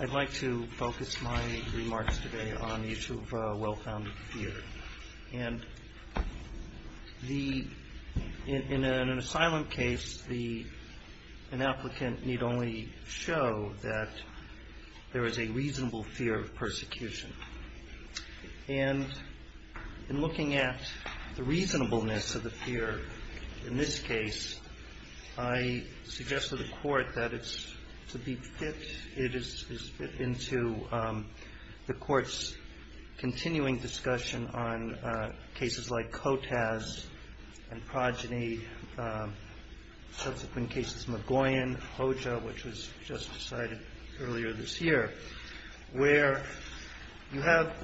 I'd like to focus my remarks today on the issue of well-founded fear. In an asylum case, an applicant need only show that there is a reasonable fear of persecution. In looking at the reasonableness of the fear in this case, I suggest to the Court that it is to be fit into the Court's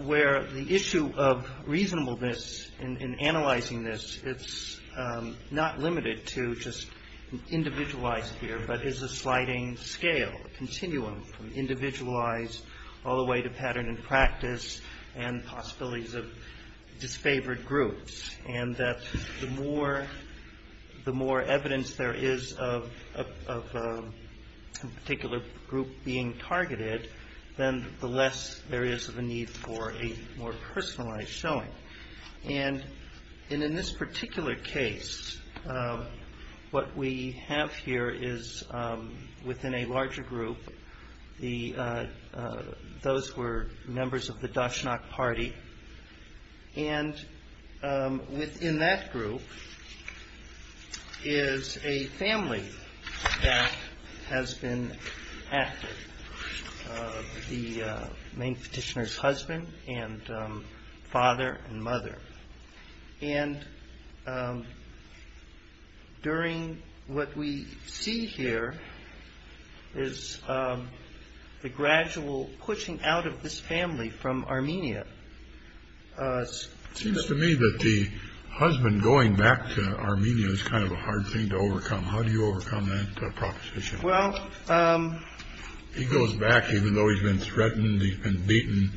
Where the issue of reasonableness in analyzing this, it's not limited to just individualized fear, but is a sliding scale, a continuum from individualized all the way to pattern and practice and possibilities of disfavored groups. And that the more evidence there is of a particular group being targeted, then the less there is of a need for a more personalized showing. And in this particular case, what we have here is within a larger group, those were members of the Dachshund party. And within that group is a family that has been active. The main petitioner's husband and father and mother. And during what we see here is the gradual pushing out of this family from Armenia. It seems to me that the husband going back to Armenia is kind of a hard thing to overcome. How do you overcome that proposition? Well, he goes back, even though he's been threatened and beaten,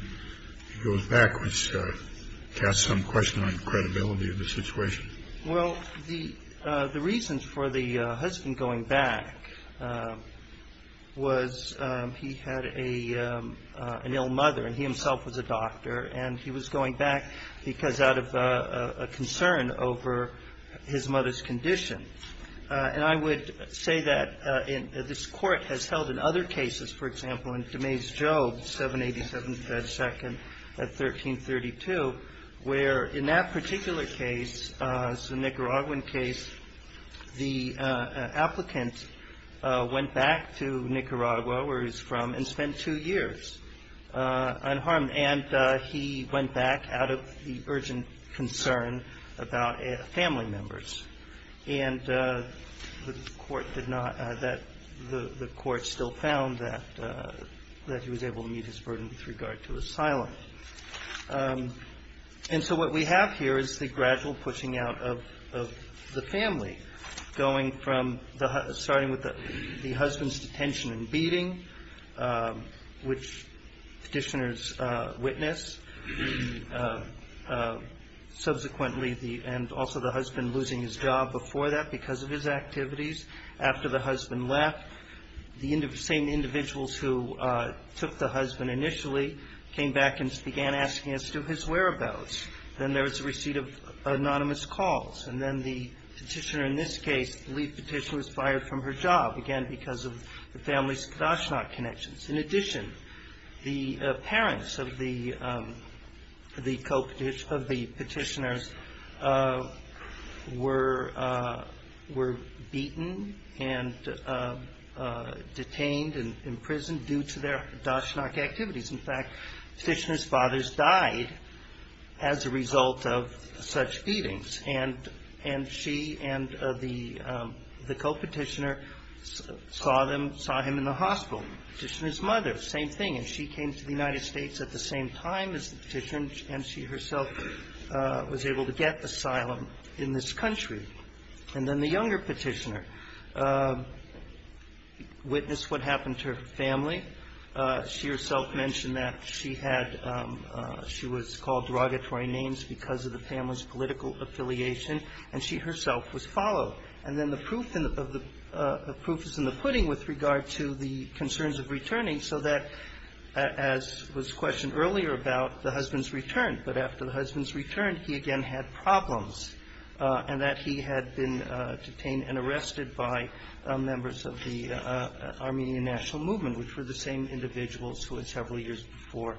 he goes backwards, cast some question on credibility of the situation. Well, the reasons for the husband going back was he had an ill mother and he himself was a doctor and he was going back because out of a concern over his mother's condition. And I would say that this court has held in other cases, for example, in DeMays-Jobes 787-2 at 1332, where in that particular case, it's a Nicaraguan case, the applicant went back to Nicaragua, where he's from, and spent two years unharmed and he went back out of the urgent concern about family members. And the court did not, the court still found that he was able to meet his burden with regard to asylum. And so what we have here is the gradual pushing out of the family, going from starting with the husband's detention and beating, which petitioners witness, subsequently, and also the husband losing his job before that because of his activities. After the husband left, the same individuals who took the husband initially came back and began asking as to his whereabouts. Then there was a receipt of anonymous calls. And then the petitioner in this case, the lead petitioner, was fired from her job, again, because of the family's Kodoshnok connections. In addition, the parents of the petitioners were beaten and detained and imprisoned due to their Kodoshnok activities. In fact, petitioner's fathers died as a result of such beatings. And she and the co-petitioner saw him in the hospital, petitioner's mother, same thing. And she came to the United States at the same time as the petitioner, and she herself was able to get asylum in this country. And then the younger petitioner witnessed what happened to her family. She herself mentioned that she had – she was called derogatory names because of the family's political affiliation. And she herself was followed. And then the proof is in the pudding with regard to the concerns of returning, so that, as was questioned earlier about the husband's return, but after the husband's return, he again had problems, and that he had been detained and arrested by members of the Armenian National Movement, which were the same individuals who, several years before,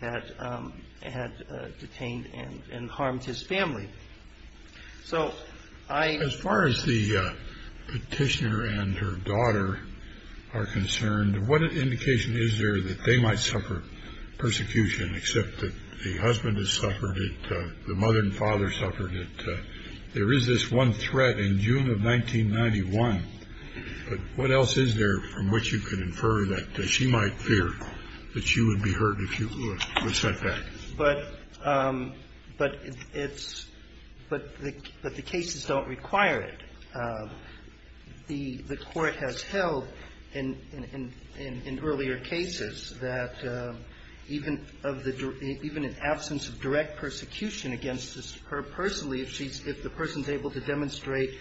had detained and harmed his family. So I – As far as the petitioner and her daughter are concerned, what indication is there that they might suffer persecution, except that the husband has suffered it, the mother and father suffered it? There is this one threat in June of 1991, but what else is there from which you could infer that she might fear that she would be hurt if she was sent back? But it's – but the cases don't require it. The Court has held in earlier cases that even of the – even in absence of direct persecution against her personally, if she's – if the person's able to demonstrate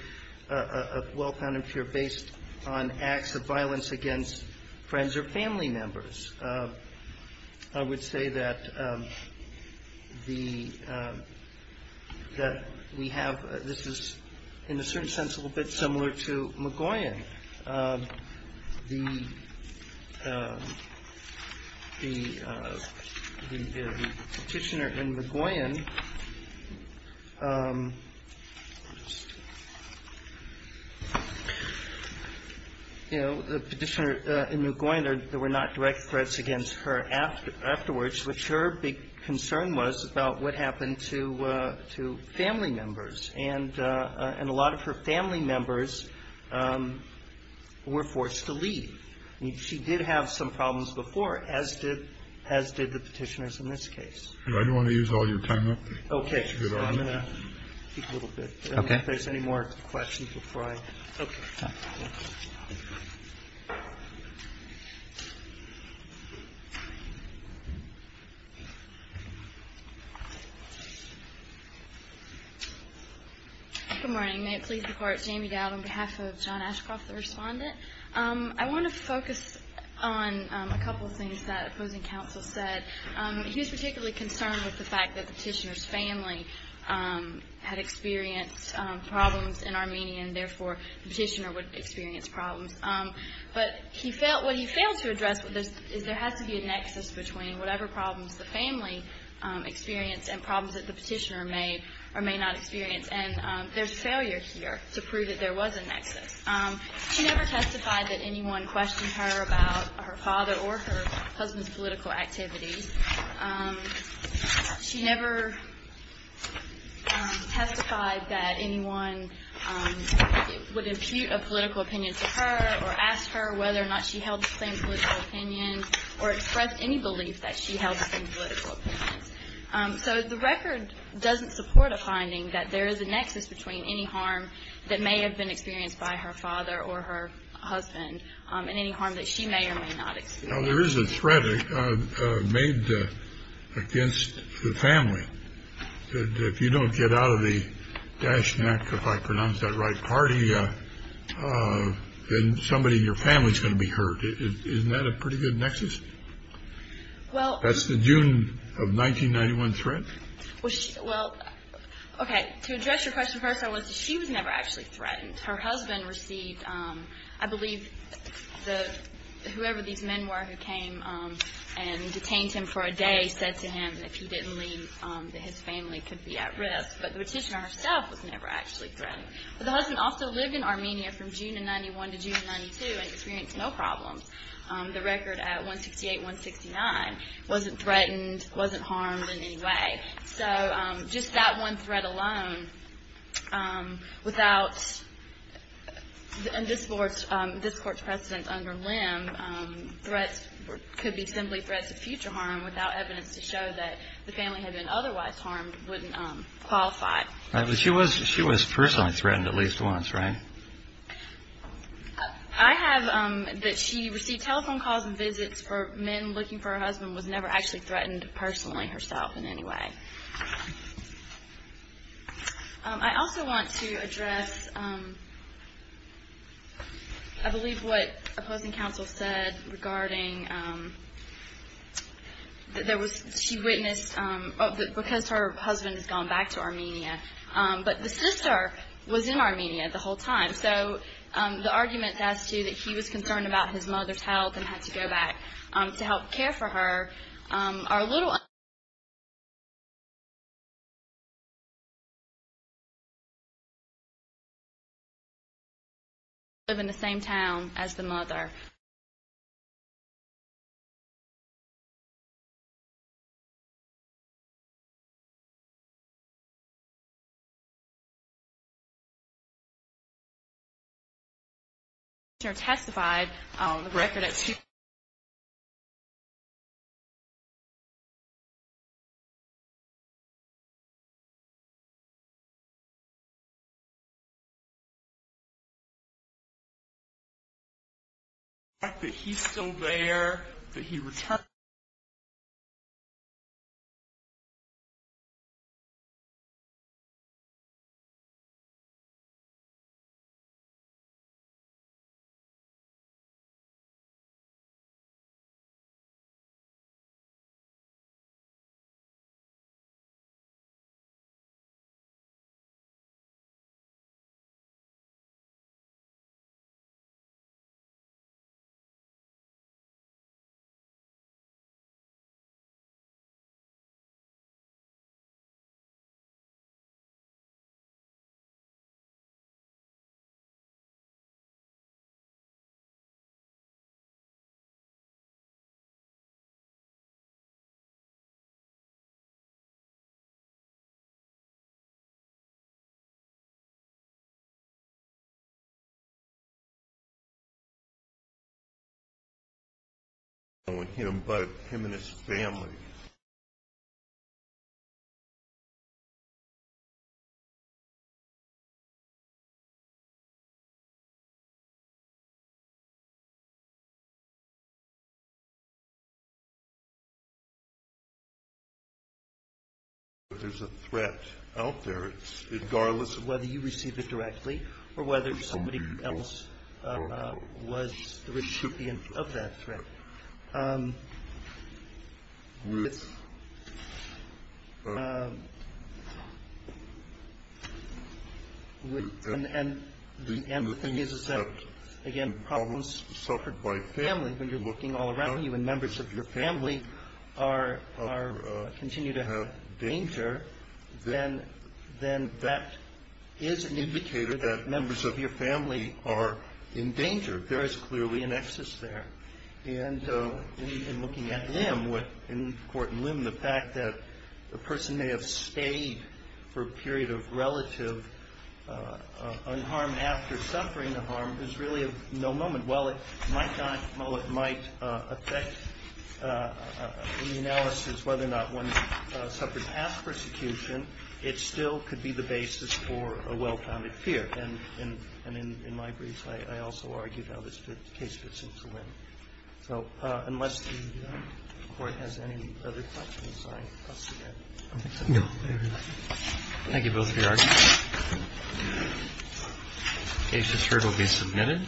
a well-founded fear based on acts of violence against friends or family members. I would say that the – that we have – this is, in a certain sense, a little bit similar to Magoyan. The petitioner in Magoyan – you know, the petitioner in Magoyan, there were not direct threats against her afterwards, which her big concern was about what happened to family members. And a lot of her family members were forced to leave. I mean, she did have some problems before, as did – as did the petitioners in this case. Do I want to use all your time up? Okay. I'm going to keep a little bit. Okay. If there's any more questions before I – okay. Good morning. May it please the Court, Jamie Dowd on behalf of John Ashcroft, the respondent. I want to focus on a couple of things that opposing counsel said. He was particularly concerned with the fact that the petitioner's family had experienced problems in Armenia, and therefore the petitioner would experience problems. But he felt – what he failed to address is there has to be a nexus between whatever problems the family experienced and problems that the petitioner may or may not experience. And there's failure here to prove that there was a nexus. She never testified that anyone questioned her about her father or her husband's political activities. She never testified that anyone would impute a political opinion to her or ask her whether or not she held the same political opinion or expressed any belief that she held the same political opinion. So the record doesn't support a finding that there is a nexus between any harm that may have been experienced by her father or her husband and any harm that she may or may not experience. Now, there is a threat made against the family. If you don't get out of the dashnack, if I pronounce that right, party, then somebody in your family is going to be hurt. Isn't that a pretty good nexus? That's the June of 1991 threat? Well, okay. To address your question first, she was never actually threatened. Her husband received – I believe whoever these men were who came and detained him for a day said to him that if he didn't leave, his family could be at risk. But the petitioner herself was never actually threatened. But the husband also lived in Armenia from June of 91 to June of 92 and experienced no problems. The record at 168-169 wasn't threatened, wasn't harmed in any way. So just that one threat alone without – and this Court's precedent under limb, threats could be simply threats of future harm without evidence to show that the family had been otherwise harmed wouldn't qualify. But she was personally threatened at least once, right? I have – that she received telephone calls and visits for men looking for her husband was never actually threatened personally herself in any way. I also want to address, I believe, what opposing counsel said regarding – that there was – she witnessed – because her husband has gone back to Armenia. But the sister was in Armenia the whole time. So the arguments as to that he was concerned about his mother's health and had to go back to help care for her are a little – live in the same town as the mother. In fact Verbalscreaming has just recently testified on the record at two – ...the fact that he is still there, that he returned –...... ...him and his family.... There's a threat out there, regardless of whether you receive it directly, or whether somebody else was the recipient of that threat.......... Well, it might not, it might affect the analysis whether or not one suffers past persecution. It still could be the basis for a well-founded fear. In my briefs I also argue how this case fits into that. So, unless the court has any other questions, I'll stop there. Thank you both for your arguments. The case is here to be submitted.